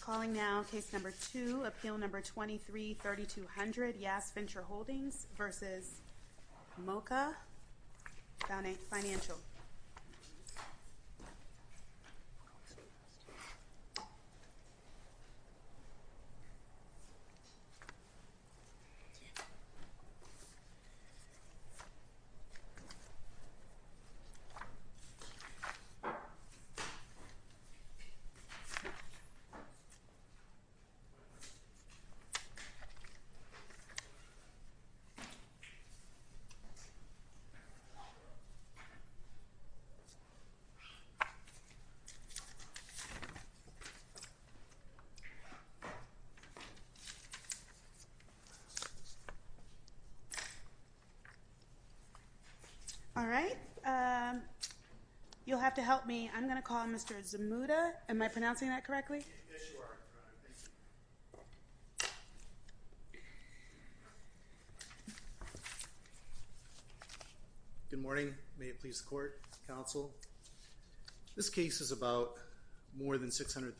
Calling now case number two, appeal number 23-3200, Yash Venture Holdings versus Moca Financial. All right. You'll have to help me. I'm going to call Mr. Zamuda. Am I pronouncing that correctly? Yes, you are. All right. Thank you. Good morning. May it please the court, counsel? This case is about more than $600,000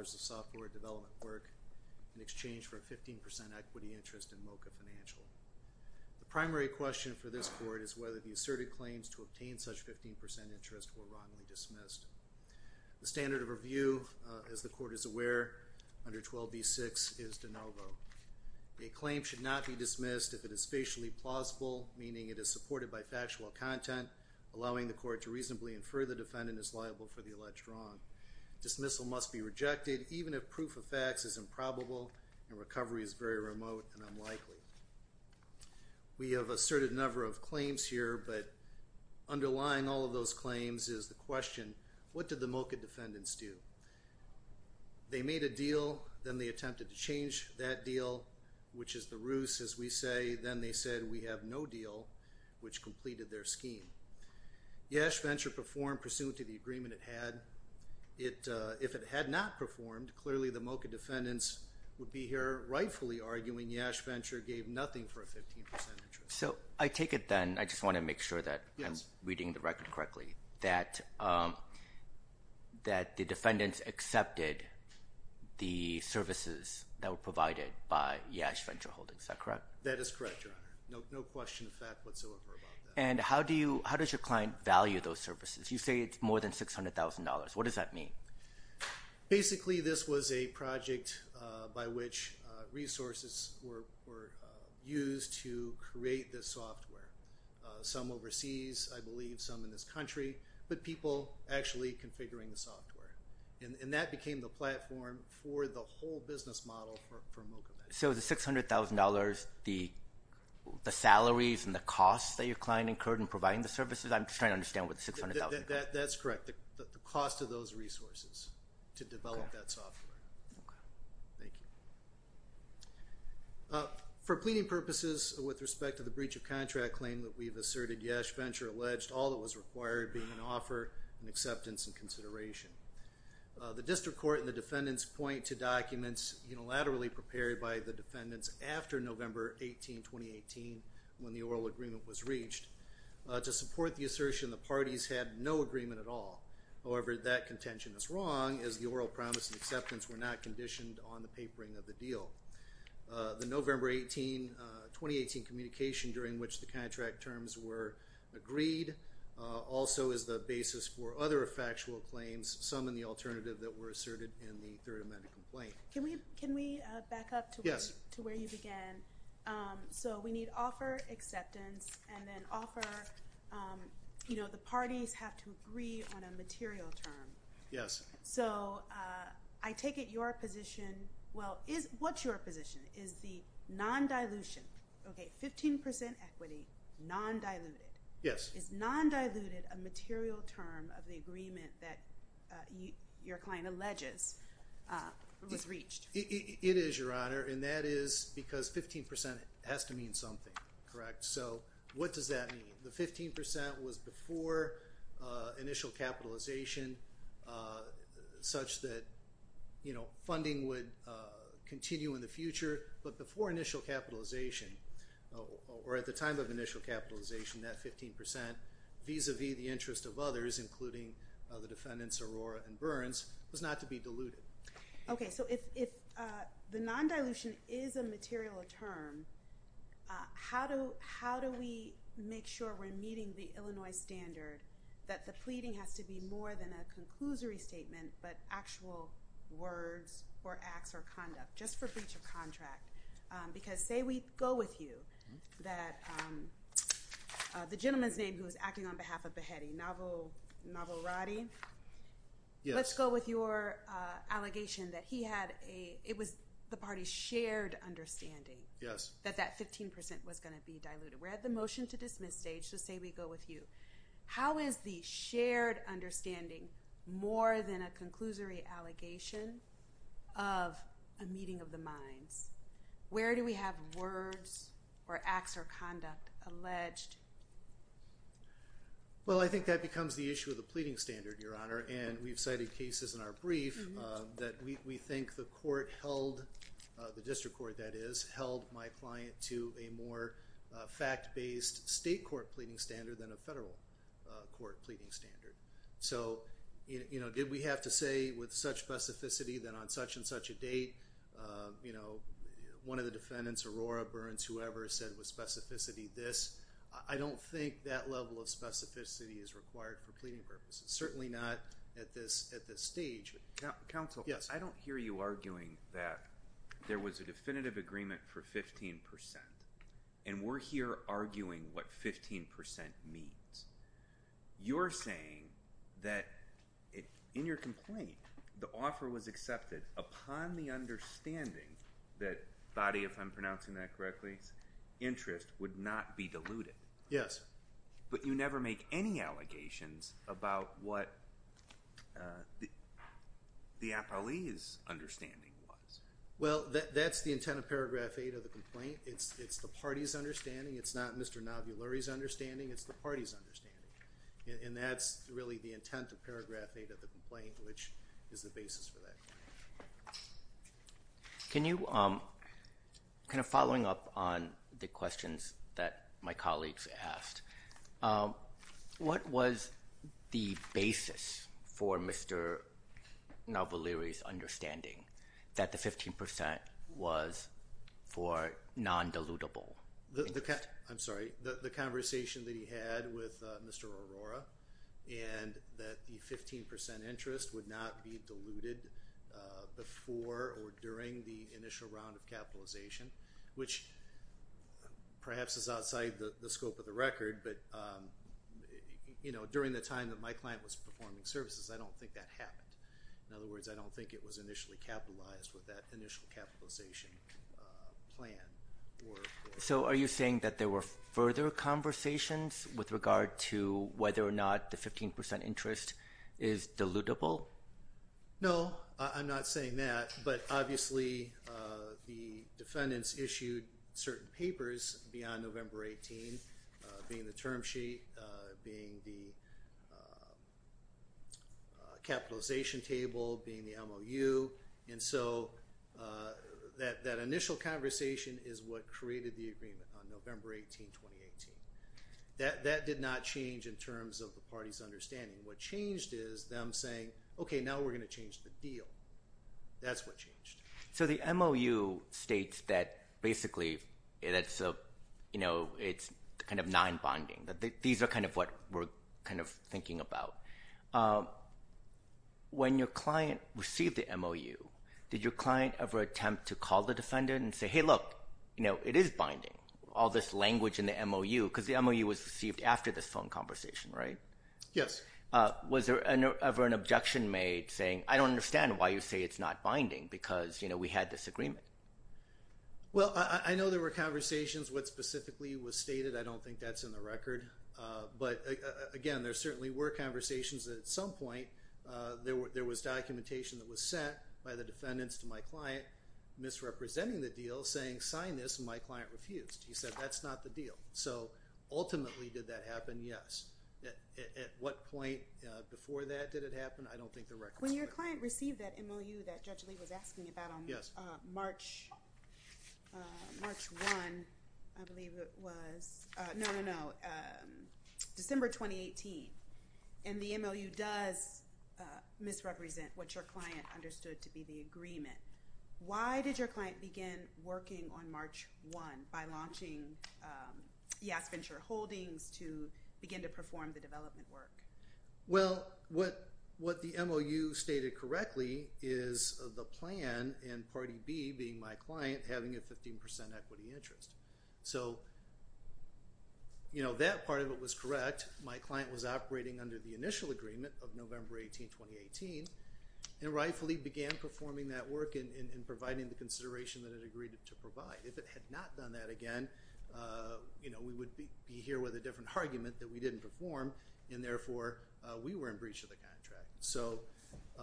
of software development work in exchange for a 15% equity interest in Moca Financial. The primary question for this court is whether the asserted claims to obtain such 15% interest were wrongly dismissed. The standard of review, as the court is aware, under 12b-6 is de novo. A claim should not be dismissed if it is spatially plausible, meaning it is supported by factual content, allowing the court to reasonably infer the defendant is liable for the alleged wrong. Dismissal must be rejected even if proof of facts is improbable and recovery is very remote and unlikely. We have asserted a number of claims here, but underlying all of those claims is the question, what did the Moca defendants do? They made a deal, then they attempted to change that deal, which is the ruse, as we say. Then they said, we have no deal, which completed their scheme. Yash Venture performed pursuant to the agreement it had. If it had not performed, clearly the Moca defendants would be here rightfully arguing Yash Venture gave nothing for a 15% interest. So I take it then, I just want to make sure that I'm reading the record correctly, that the defendants accepted the services that were provided by Yash Venture Holdings. Is that correct? That is correct, Your Honor. No question of fact whatsoever about that. And how does your client value those services? You say it's more than $600,000. What does that mean? Basically, this was a project by which resources were used to create this software. Some overseas, I believe, some in this country, but people actually configuring the software. And that became the platform for the whole business model for Moca. So the $600,000, the salaries and the costs that your client incurred in providing the services, I'm just trying to understand what the $600,000 is. That's correct, the cost of those resources to develop that software. Okay. Thank you. For pleading purposes, with respect to the breach of contract claim that we've asserted, Yash Venture alleged all that was required being an offer and acceptance and consideration. The district court and the defendants point to documents unilaterally prepared by the defendants after November 18, 2018, when the oral agreement was reached. To support the assertion, the parties had no agreement at all. However, that contention is wrong, as the oral promise and acceptance were not conditioned on the papering of the deal. The November 18, 2018, communication during which the contract terms were agreed also is the basis for other factual claims, some in the alternative that were asserted in the Third Amendment complaint. Can we back up to where you began? Yes. So we need offer, acceptance, and then offer, you know, the parties have to agree on a material term. Yes. So I take it your position, well, what's your position? Is the non-dilution, okay, 15% equity, non-diluted. Yes. Is non-diluted a material term of the agreement that your client alleges was reached? It is, Your Honor, and that is because 15% has to mean something, correct? So what does that mean? The 15% was before initial capitalization, such that, you know, funding would continue in the future, but before initial capitalization, or at the time of initial capitalization, that 15%, vis-a-vis the interest of others, including the defendants Aurora and Burns, was not to be diluted. Okay. So if the non-dilution is a material term, how do we make sure we're meeting the Illinois standard that the pleading has to be more than a conclusory statement, but actual words or acts or conduct, just for breach of contract? Because say we go with you, that the gentleman's name who's acting on behalf of Beheti, Navoradi. Yes. Let's go with your allegation that he had a, it was the party's shared understanding. Yes. That that 15% was going to be diluted. We're at the motion to dismiss stage, so say we go with you. How is the shared understanding more than a conclusory allegation of a meeting of the minds? Where do we have words or acts or conduct alleged? Well, I think that becomes the issue of the pleading standard, Your Honor, and we've cited cases in our brief that we think the court held, the district court that is, held my client to a more fact-based state court pleading standard than a federal court pleading standard. So, you know, did we have to say with such specificity that on such and such a date, you know, one of the defendants, Aurora Burns, whoever said with specificity this, I don't think that level of specificity is required for pleading purposes. Certainly not at this stage. Counsel. Yes. I don't hear you arguing that there was a definitive agreement for 15%, and we're here arguing what 15% means. You're saying that in your complaint, the offer was accepted upon the understanding that body, if I'm pronouncing that correctly, interest would not be diluted. Yes. But you never make any allegations about what the appellee's understanding was. Well, that's the intent of Paragraph 8 of the complaint. It's the party's understanding. It's not Mr. Nabulari's understanding. It's the party's understanding, and that's really the intent of Paragraph 8 of the complaint, which is the basis for that. Can you, kind of following up on the questions that my colleagues asked, what was the basis for Mr. Nabulari's understanding that the 15% was for non-dilutable interest? I'm sorry, the conversation that he had with Mr. Aurora, and that the 15% interest would not be diluted before or during the initial round of capitalization, which perhaps is outside the scope of the record, but during the time that my client was performing services, I don't think that happened. In other words, I don't think it was initially capitalized with that initial capitalization plan. So are you saying that there were further conversations with regard to whether or not the 15% interest is dilutable? No, I'm not saying that, but obviously the defendants issued certain papers beyond November 18, being the term sheet, being the capitalization table, being the MOU. And so that initial conversation is what created the agreement on November 18, 2018. That did not change in terms of the party's understanding. What changed is them saying, okay, now we're going to change the deal. That's what changed. So the MOU states that basically it's kind of non-bonding. These are kind of what we're thinking about. When your client received the MOU, did your client ever attempt to call the defendant and say, hey, look, it is binding, all this language in the MOU, because the MOU was received after this phone conversation, right? Yes. Was there ever an objection made saying, I don't understand why you say it's not binding, because we had this agreement? Well, I know there were conversations. What specifically was stated, I don't think that's in the record. But, again, there certainly were conversations that at some point there was documentation that was sent by the defendants to my client, misrepresenting the deal, saying sign this, and my client refused. He said that's not the deal. So ultimately did that happen? Yes. At what point before that did it happen? I don't think the record is clear. When your client received that MOU that Judge Lee was asking about on March 1, I believe it was. No, no, no. December 2018. And the MOU does misrepresent what your client understood to be the agreement. Why did your client begin working on March 1 by launching Yas Venture Holdings to begin to perform the development work? Well, what the MOU stated correctly is the plan and Party B, being my client, having a 15% equity interest. So, you know, that part of it was correct. My client was operating under the initial agreement of November 18, 2018, and rightfully began performing that work and providing the consideration that it agreed to provide. If it had not done that again, you know, we would be here with a different argument that we didn't perform, and therefore we were in breach of the contract. So I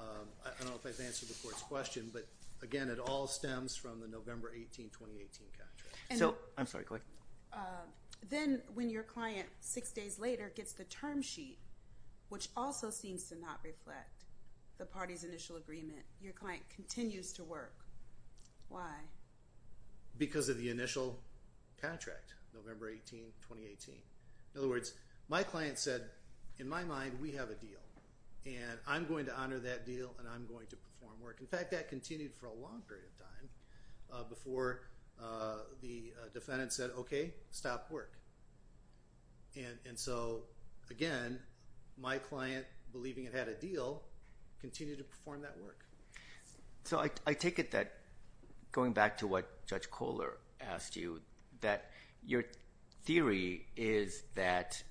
don't know if I've answered the Court's question, but, again, it all stems from the November 18, 2018 contract. I'm sorry, go ahead. Then when your client six days later gets the term sheet, which also seems to not reflect the Party's initial agreement, your client continues to work. Why? Because of the initial contract, November 18, 2018. In other words, my client said, in my mind, we have a deal, and I'm going to honor that deal, and I'm going to perform work. In fact, that continued for a long period of time before the defendant said, okay, stop work. And so, again, my client, believing it had a deal, continued to perform that work. So I take it that, going back to what Judge Kohler asked you, that your theory is that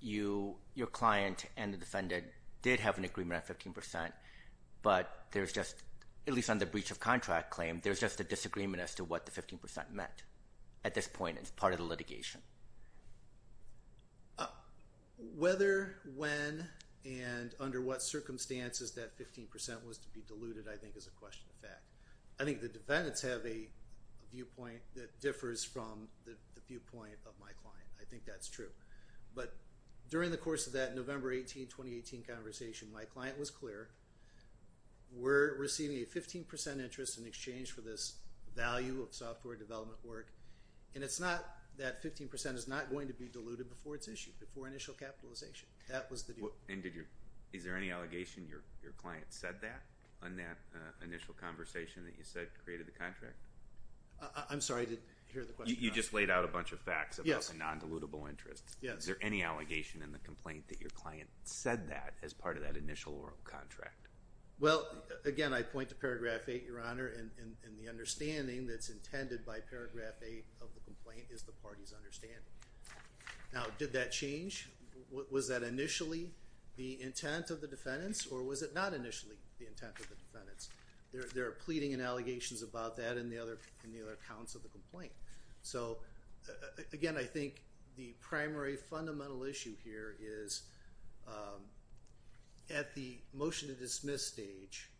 your client and the defendant did have an agreement at 15%, but there's just, at least on the breach of contract claim, there's just a disagreement as to what the 15% meant. At this point, it's part of the litigation. Whether, when, and under what circumstances that 15% was to be diluted, I think is a question of fact. I think the defendants have a viewpoint that differs from the viewpoint of my client. I think that's true. But during the course of that November 18, 2018 conversation, my client was clear. We're receiving a 15% interest in exchange for this value of software development work. And it's not that 15% is not going to be diluted before it's issued, before initial capitalization. That was the deal. And is there any allegation your client said that on that initial conversation that you said created the contract? I'm sorry, I didn't hear the question. You just laid out a bunch of facts about the non-dilutable interest. Is there any allegation in the complaint that your client said that as part of that initial oral contract? Well, again, I point to paragraph 8, Your Honor, and the understanding that's intended by paragraph 8 of the complaint is the party's understanding. Now, did that change? Was that initially the intent of the defendants, or was it not initially the intent of the defendants? There are pleading and allegations about that in the other accounts of the complaint. So, again, I think the primary fundamental issue here is at the motion to dismiss stage,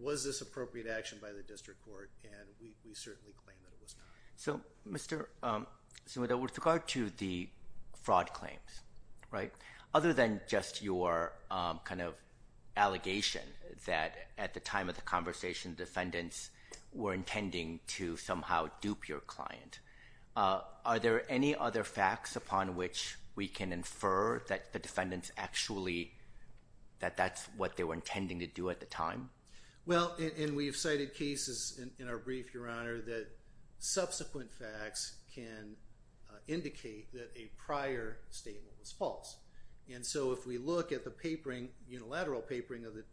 was this appropriate action by the district court? And we certainly claim that it was not. So, Mr. Sumida, with regard to the fraud claims, right, other than just your kind of allegation that at the time of the conversation, defendants were intending to somehow dupe your client, are there any other facts upon which we can infer that the defendants actually, that that's what they were intending to do at the time? Well, and we have cited cases in our brief, Your Honor, that subsequent facts can indicate that a prior statement was false. And so if we look at the papering, unilateral papering of the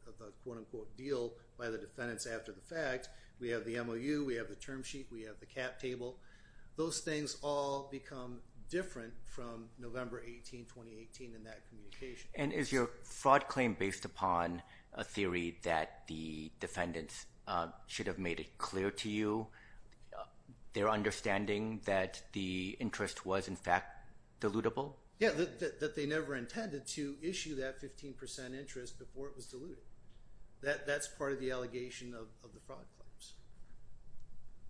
quote-unquote deal by the defendants after the fact, we have the MOU, we have the term sheet, we have the cap table. Those things all become different from November 18, 2018 in that communication. And is your fraud claim based upon a theory that the defendants should have made it clear to you, their understanding that the interest was, in fact, dilutable? Yeah, that they never intended to issue that 15 percent interest before it was diluted. That's part of the allegation of the fraud claims.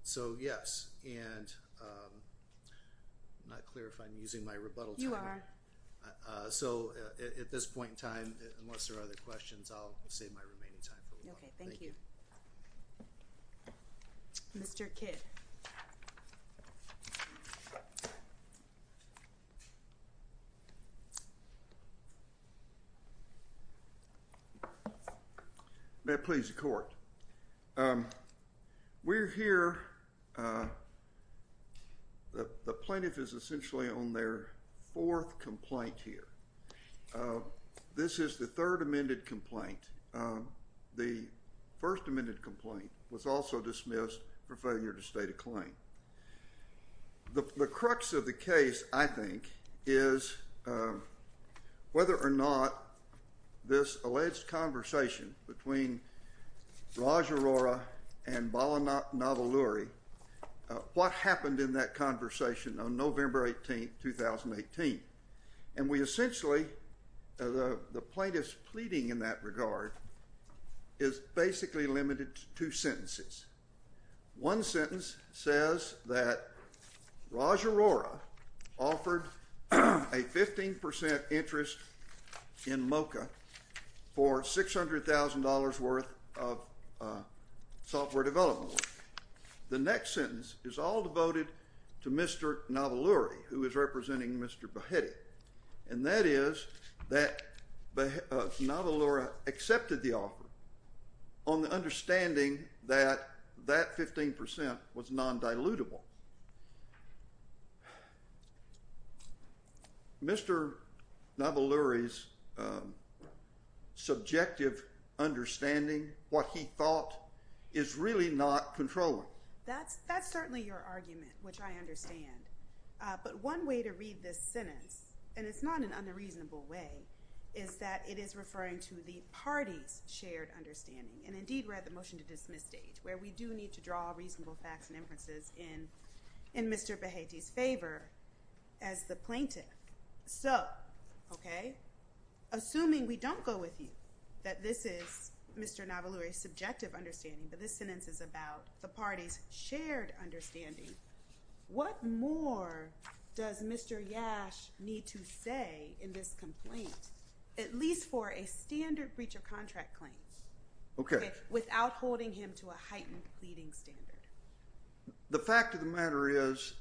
So, yes, and I'm not clear if I'm using my rebuttal time. You are. So at this point in time, unless there are other questions, I'll save my remaining time for rebuttal. Okay, thank you. Mr. Kidd. May it please the Court. We're here. The plaintiff is essentially on their fourth complaint here. This is the third amended complaint. The first amended complaint was also dismissed for failure to state a claim. The crux of the case, I think, is whether or not this alleged conversation between Raj Arora and Bala Navaluri, what happened in that conversation on November 18, 2018. And we essentially, the plaintiff's pleading in that regard is basically limited to two sentences. One sentence says that Raj Arora offered a 15 percent interest in MoCA for $600,000 worth of software development. The next sentence is all devoted to Mr. Navaluri, who is representing Mr. Behetti, and that is that Navaluri accepted the offer on the understanding that that 15 percent was non-dilutable. Mr. Navaluri's subjective understanding, what he thought, is really not controlling. That's certainly your argument, which I understand. But one way to read this sentence, and it's not an unreasonable way, is that it is referring to the party's shared understanding. And indeed, we're at the motion-to-dismiss stage, where we do need to draw reasonable facts and inferences in Mr. Behetti's favor as the plaintiff. So, okay, assuming we don't go with you, that this is Mr. Navaluri's subjective understanding, but this sentence is about the party's shared understanding, what more does Mr. Yash need to say in this complaint, at least for a standard breach of contract claim, without holding him to a heightened pleading standard? The fact of the matter is,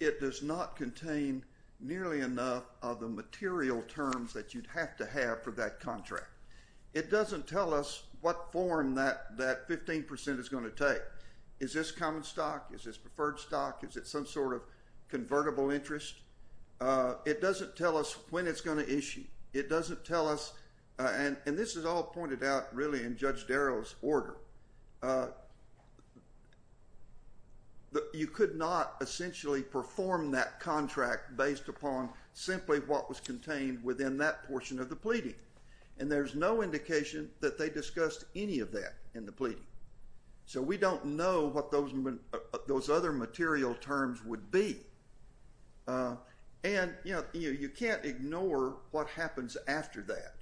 it does not contain nearly enough of the material terms that you'd have to have for that contract. It doesn't tell us what form that 15 percent is going to take. Is this common stock? Is this preferred stock? Is it some sort of convertible interest? It doesn't tell us when it's going to issue. It doesn't tell us, and this is all pointed out really in Judge Darrell's order, that you could not essentially perform that contract based upon simply what was contained within that portion of the pleading. And there's no indication that they discussed any of that in the pleading. So we don't know what those other material terms would be. And, you know, you can't ignore what happens after that,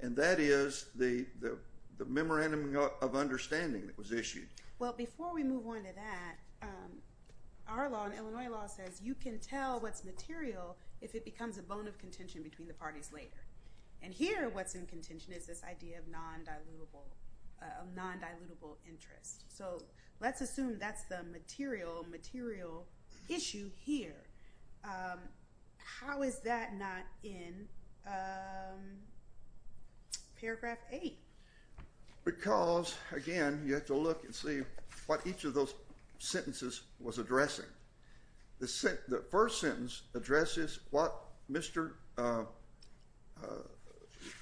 and that is the memorandum of understanding that was issued. Well, before we move on to that, our law, Illinois law, says you can tell what's material if it becomes a bone of contention between the parties later. And here what's in contention is this idea of non-dilutable interest. So let's assume that's the material issue here. How is that not in paragraph 8? Because, again, you have to look and see what each of those sentences was addressing. The first sentence addresses what Mr.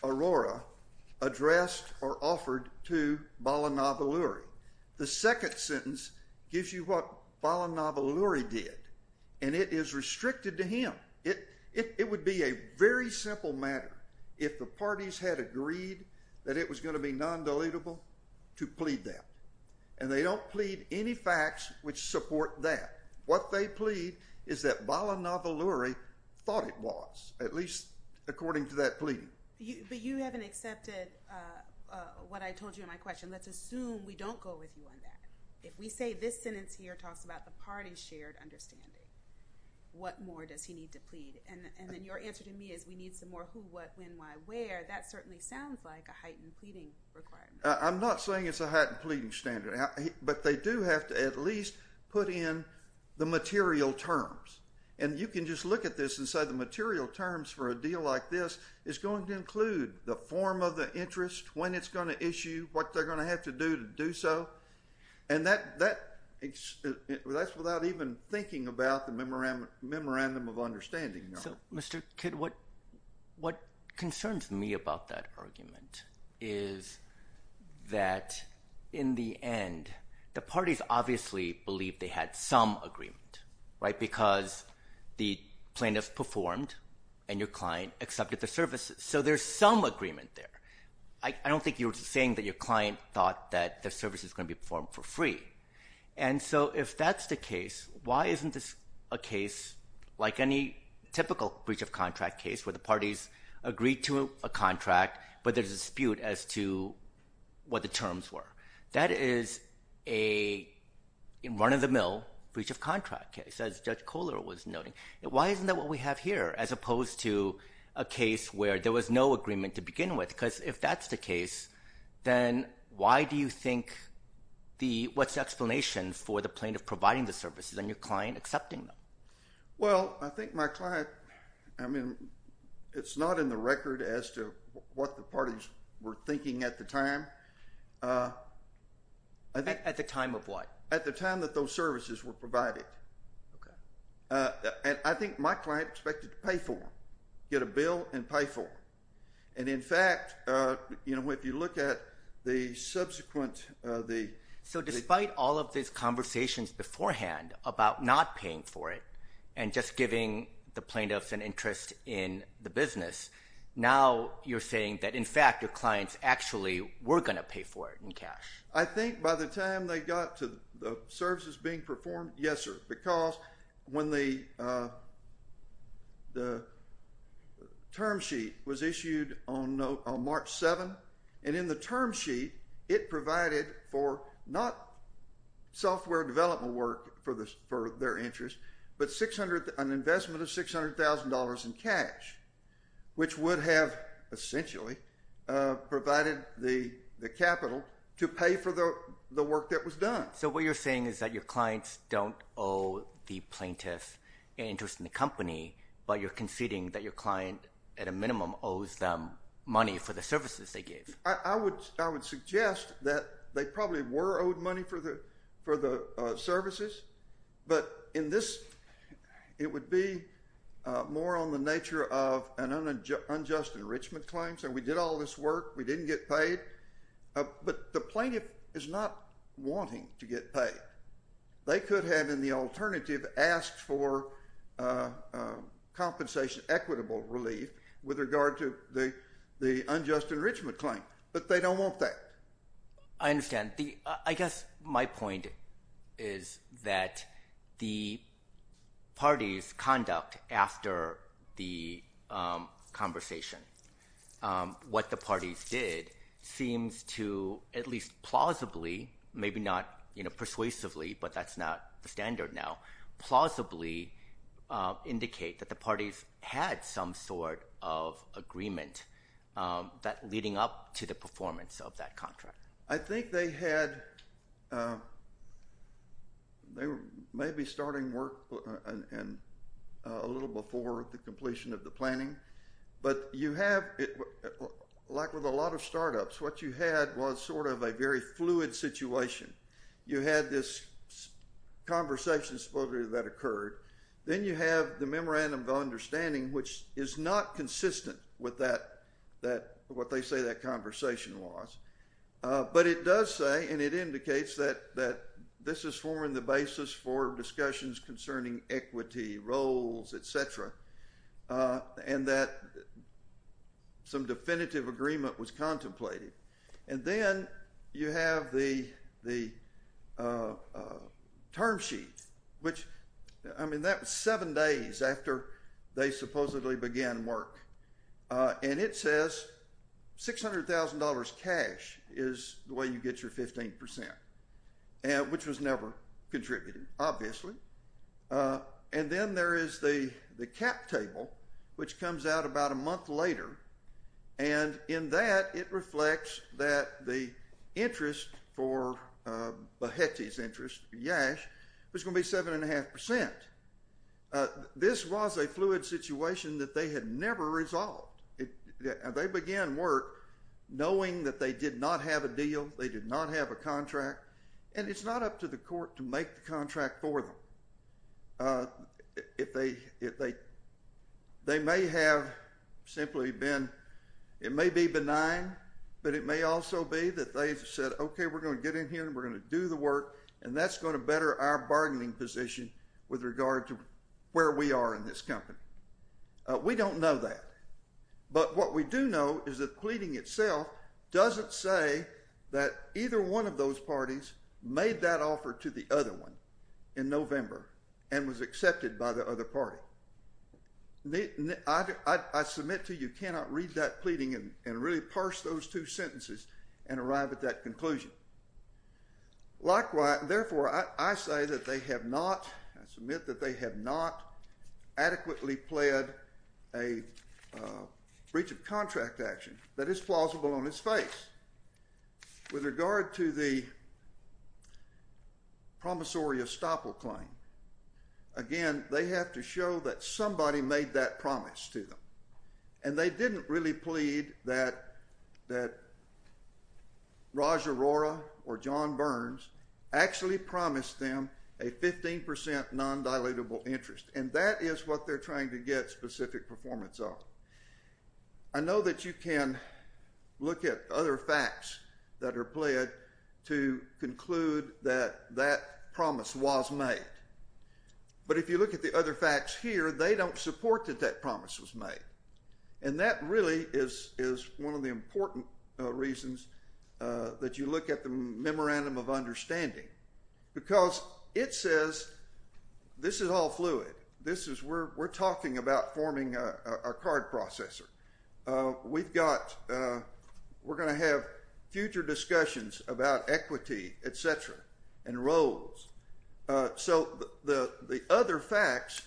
Arora addressed or offered to Balanav Alluri. The second sentence gives you what Balanav Alluri did, and it is restricted to him. It would be a very simple matter if the parties had agreed that it was going to be non-dilutable to plead that, and they don't plead any facts which support that. What they plead is that Balanav Alluri thought it was, at least according to that pleading. But you haven't accepted what I told you in my question. Let's assume we don't go with you on that. If we say this sentence here talks about the parties' shared understanding, what more does he need to plead? And then your answer to me is we need some more who, what, when, why, where. That certainly sounds like a heightened pleading requirement. I'm not saying it's a heightened pleading standard, but they do have to at least put in the material terms. And you can just look at this and say the material terms for a deal like this is going to include the form of the interest, when it's going to issue, what they're going to have to do to do so. And that's without even thinking about the memorandum of understanding. So, Mr. Kidd, what concerns me about that argument is that, in the end, the parties obviously believe they had some agreement, right, because the plaintiff performed and your client accepted the services. So there's some agreement there. I don't think you're saying that your client thought that the service was going to be performed for free. And so if that's the case, why isn't this a case like any typical breach of contract case where the parties agree to a contract, but there's a dispute as to what the terms were? That is a run-of-the-mill breach of contract case, as Judge Kohler was noting. Why isn't that what we have here as opposed to a case where there was no agreement to begin with? Because if that's the case, then why do you think what's the explanation for the plaintiff providing the services and your client accepting them? Well, I think my client, I mean, it's not in the record as to what the parties were thinking at the time. At the time of what? At the time that those services were provided. Okay. And I think my client expected to pay for them, get a bill and pay for them. And, in fact, you know, if you look at the subsequent, the – So despite all of these conversations beforehand about not paying for it and just giving the plaintiffs an interest in the business, now you're saying that, in fact, your clients actually were going to pay for it in cash. I think by the time they got to the services being performed, yes, sir. Because when the term sheet was issued on March 7th, and in the term sheet it provided for not software development work for their interest, but an investment of $600,000 in cash, which would have essentially provided the capital to pay for the work that was done. So what you're saying is that your clients don't owe the plaintiff an interest in the company, but you're conceding that your client, at a minimum, owes them money for the services they gave. I would suggest that they probably were owed money for the services, but in this, it would be more on the nature of an unjust enrichment claim. So we did all this work. We didn't get paid. But the plaintiff is not wanting to get paid. They could have, in the alternative, asked for compensation, equitable relief, with regard to the unjust enrichment claim. But they don't want that. I understand. I guess my point is that the parties' conduct after the conversation, what the parties did seems to at least plausibly, maybe not persuasively, but that's not the standard now, plausibly indicate that the parties had some sort of agreement leading up to the performance of that contract. I think they had—they were maybe starting work a little before the completion of the planning, but you have, like with a lot of startups, what you had was sort of a very fluid situation. You had this conversation, supposedly, that occurred. Then you have the memorandum of understanding, which is not consistent with what they say that conversation was. But it does say, and it indicates, that this is forming the basis for discussions concerning equity, roles, et cetera, and that some definitive agreement was contemplated. And then you have the term sheet, which, I mean, that was seven days after they supposedly began work. And it says $600,000 cash is the way you get your 15%, which was never contributed, obviously. And then there is the cap table, which comes out about a month later. And in that, it reflects that the interest for Behati's interest, Yash, was going to be 7.5%. This was a fluid situation that they had never resolved. They began work knowing that they did not have a deal, they did not have a contract, and it's not up to the court to make the contract for them. They may have simply been, it may be benign, but it may also be that they said, okay, we're going to get in here and we're going to do the work, and that's going to better our bargaining position with regard to where we are in this company. We don't know that. But what we do know is that the pleading itself doesn't say that either one of those parties made that offer to the other one in November and was accepted by the other party. I submit to you, you cannot read that pleading and really parse those two sentences and arrive at that conclusion. Therefore, I say that they have not, I submit that they have not adequately pled a breach of contract action that is plausible on its face. With regard to the promissory estoppel claim, again, they have to show that somebody made that promise to them. And they didn't really plead that Raj Arora or John Burns actually promised them a 15% non-dilutable interest, and that is what they're trying to get specific performance on. I know that you can look at other facts that are pled to conclude that that promise was made, but if you look at the other facts here, they don't support that that promise was made. And that really is one of the important reasons that you look at the memorandum of understanding, because it says this is all fluid. We're talking about forming a card processor. We're going to have future discussions about equity, et cetera, and roles. So the other facts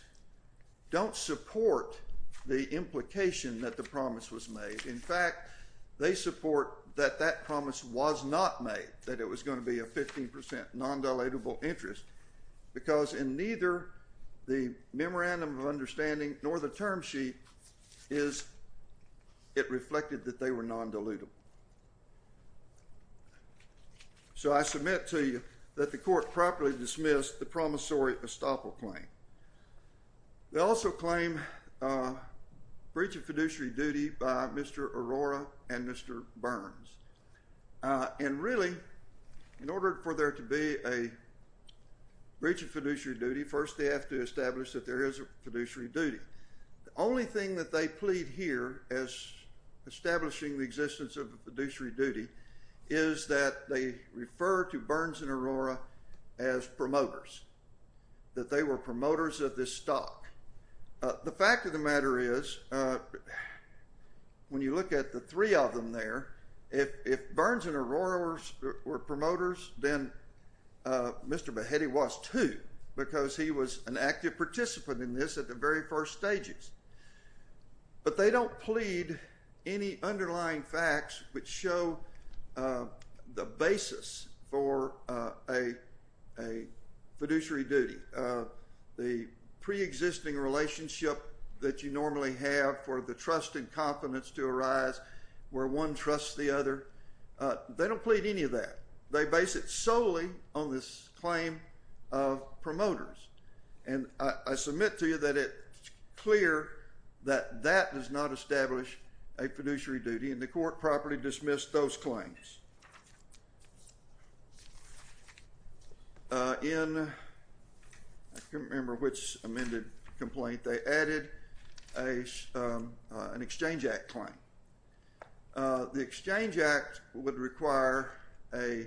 don't support the implication that the promise was made. In fact, they support that that promise was not made, that it was going to be a 15% non-dilutable interest, because in neither the memorandum of understanding nor the term sheet is it reflected that they were non-dilutable. So I submit to you that the court properly dismissed the promissory estoppel claim. They also claim breach of fiduciary duty by Mr. Arora and Mr. Burns. And really, in order for there to be a breach of fiduciary duty, first they have to establish that there is a fiduciary duty. The only thing that they plead here as establishing the existence of a fiduciary duty is that they refer to Burns and Arora as promoters, that they were promoters of this stock. The fact of the matter is, when you look at the three of them there, if Burns and Arora were promoters, then Mr. Behetti was too, because he was an active participant in this at the very first stages. But they don't plead any underlying facts which show the basis for a fiduciary duty, the preexisting relationship that you normally have for the trust and confidence to arise where one trusts the other. They don't plead any of that. They base it solely on this claim of promoters. And I submit to you that it's clear that that does not establish a fiduciary duty, and the court properly dismissed those claims. In, I can't remember which amended complaint, they added an Exchange Act claim. The Exchange Act would require a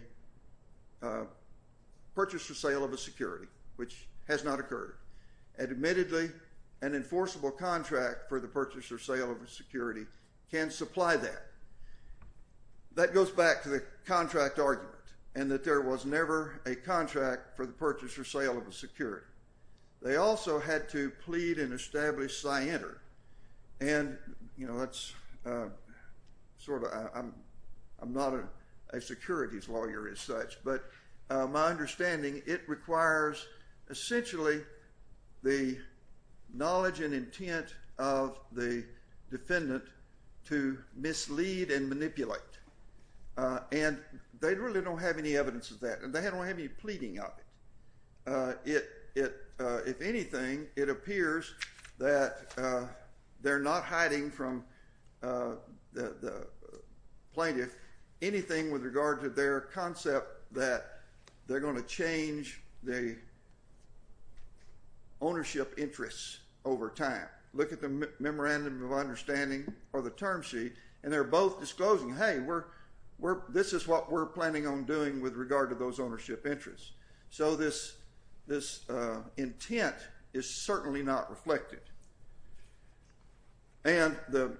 purchase or sale of a security, which has not occurred. Admittedly, an enforceable contract for the purchase or sale of a security can supply that. That goes back to the contract argument, and that there was never a contract for the purchase or sale of a security. They also had to plead and establish scienter. And, you know, that's sort of, I'm not a securities lawyer as such, but my understanding, it requires essentially the knowledge and intent of the defendant to mislead and manipulate. And they really don't have any evidence of that, and they don't have any pleading of it. If anything, it appears that they're not hiding from the plaintiff anything with regard to their concept that they're going to change the ownership interests over time. Look at the Memorandum of Understanding or the term sheet, and they're both disclosing, hey, this is what we're planning on doing with regard to those ownership interests. So this intent is certainly not reflected. And the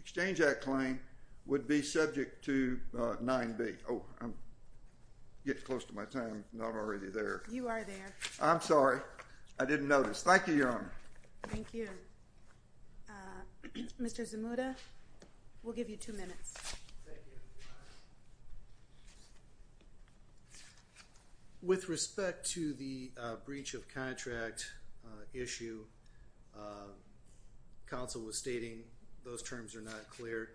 Exchange Act claim would be subject to 9B. Oh, I'm getting close to my time. I'm not already there. You are there. I'm sorry. I didn't notice. Thank you, Your Honor. Thank you. Mr. Zamuda, we'll give you two minutes. Thank you, Your Honor. With respect to the breach of contract issue, counsel was stating those terms are not clear.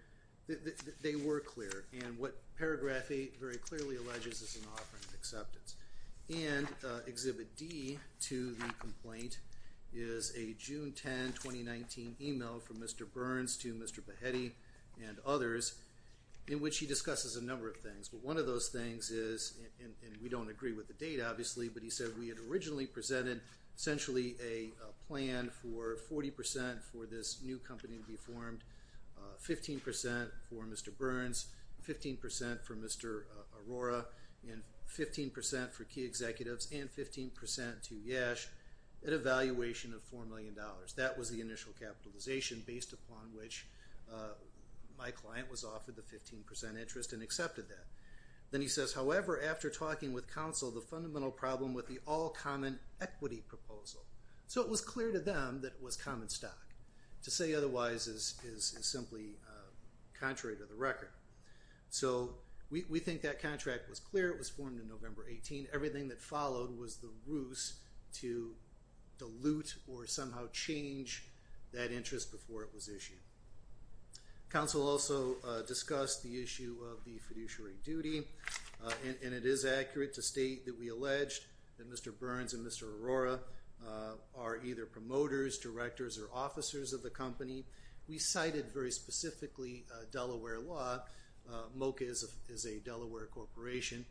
They were clear, and what paragraph 8 very clearly alleges is an offering of acceptance. And Exhibit D to the complaint is a June 10, 2019 email from Mr. Burns to Mr. Behetti and others in which he discusses a number of things. But one of those things is, and we don't agree with the date obviously, but he said we had originally presented essentially a plan for 40% for this new company to be formed, 15% for Mr. Burns, 15% for Mr. Aurora, and 15% for Key Executives, and 15% to Yash at a valuation of $4 million. That was the initial capitalization based upon which my client was offered the 15% interest and accepted that. Then he says, however, after talking with counsel, the fundamental problem with the all-common equity proposal. So it was clear to them that it was common stock. To say otherwise is simply contrary to the record. So we think that contract was clear. It was formed on November 18. Everything that followed was the ruse to dilute or somehow change that interest before it was issued. Counsel also discussed the issue of the fiduciary duty, and it is accurate to state that we alleged that Mr. Burns and Mr. Aurora are either promoters, directors, or officers of the company. We cited very specifically Delaware law. MoCA is a Delaware corporation.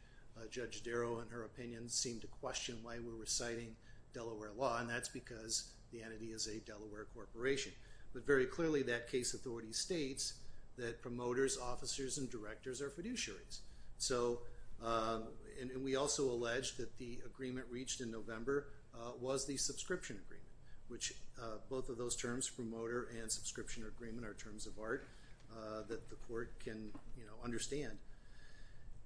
Judge Darrow, in her opinion, seemed to question why we were citing Delaware law, and that's because the entity is a Delaware corporation. But very clearly that case authority states that promoters, officers, and directors are fiduciaries. And we also alleged that the agreement reached in November was the subscription agreement, which both of those terms, promoter and subscription agreement, are terms of art that the court can understand.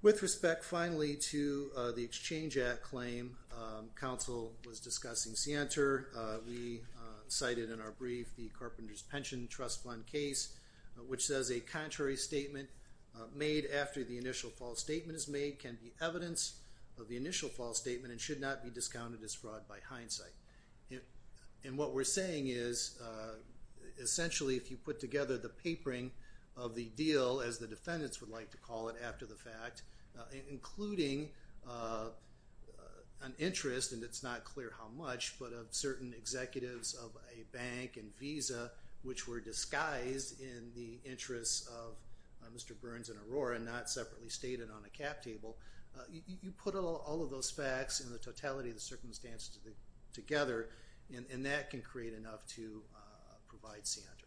With respect, finally, to the Exchange Act claim, counsel was discussing Sienter. We cited in our brief the Carpenters Pension Trust Fund case, which says a contrary statement made after the initial false statement is made can be evidence of the initial false statement and should not be discounted as fraud by hindsight. And what we're saying is essentially if you put together the papering of the deal, as the defendants would like to call it after the fact, including an interest, and it's not clear how much, but of certain executives of a bank and Visa, which were disguised in the interests of Mr. Burns and Aurora, not separately stated on a cap table, you put all of those facts and the totality of the circumstances together, and that can create enough to provide Sienter.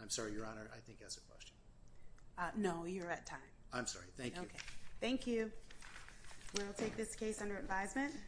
I'm sorry, Your Honor, I think that's a question. No, you're at time. I'm sorry. Thank you. Okay. Thank you. We will take this case under advisement.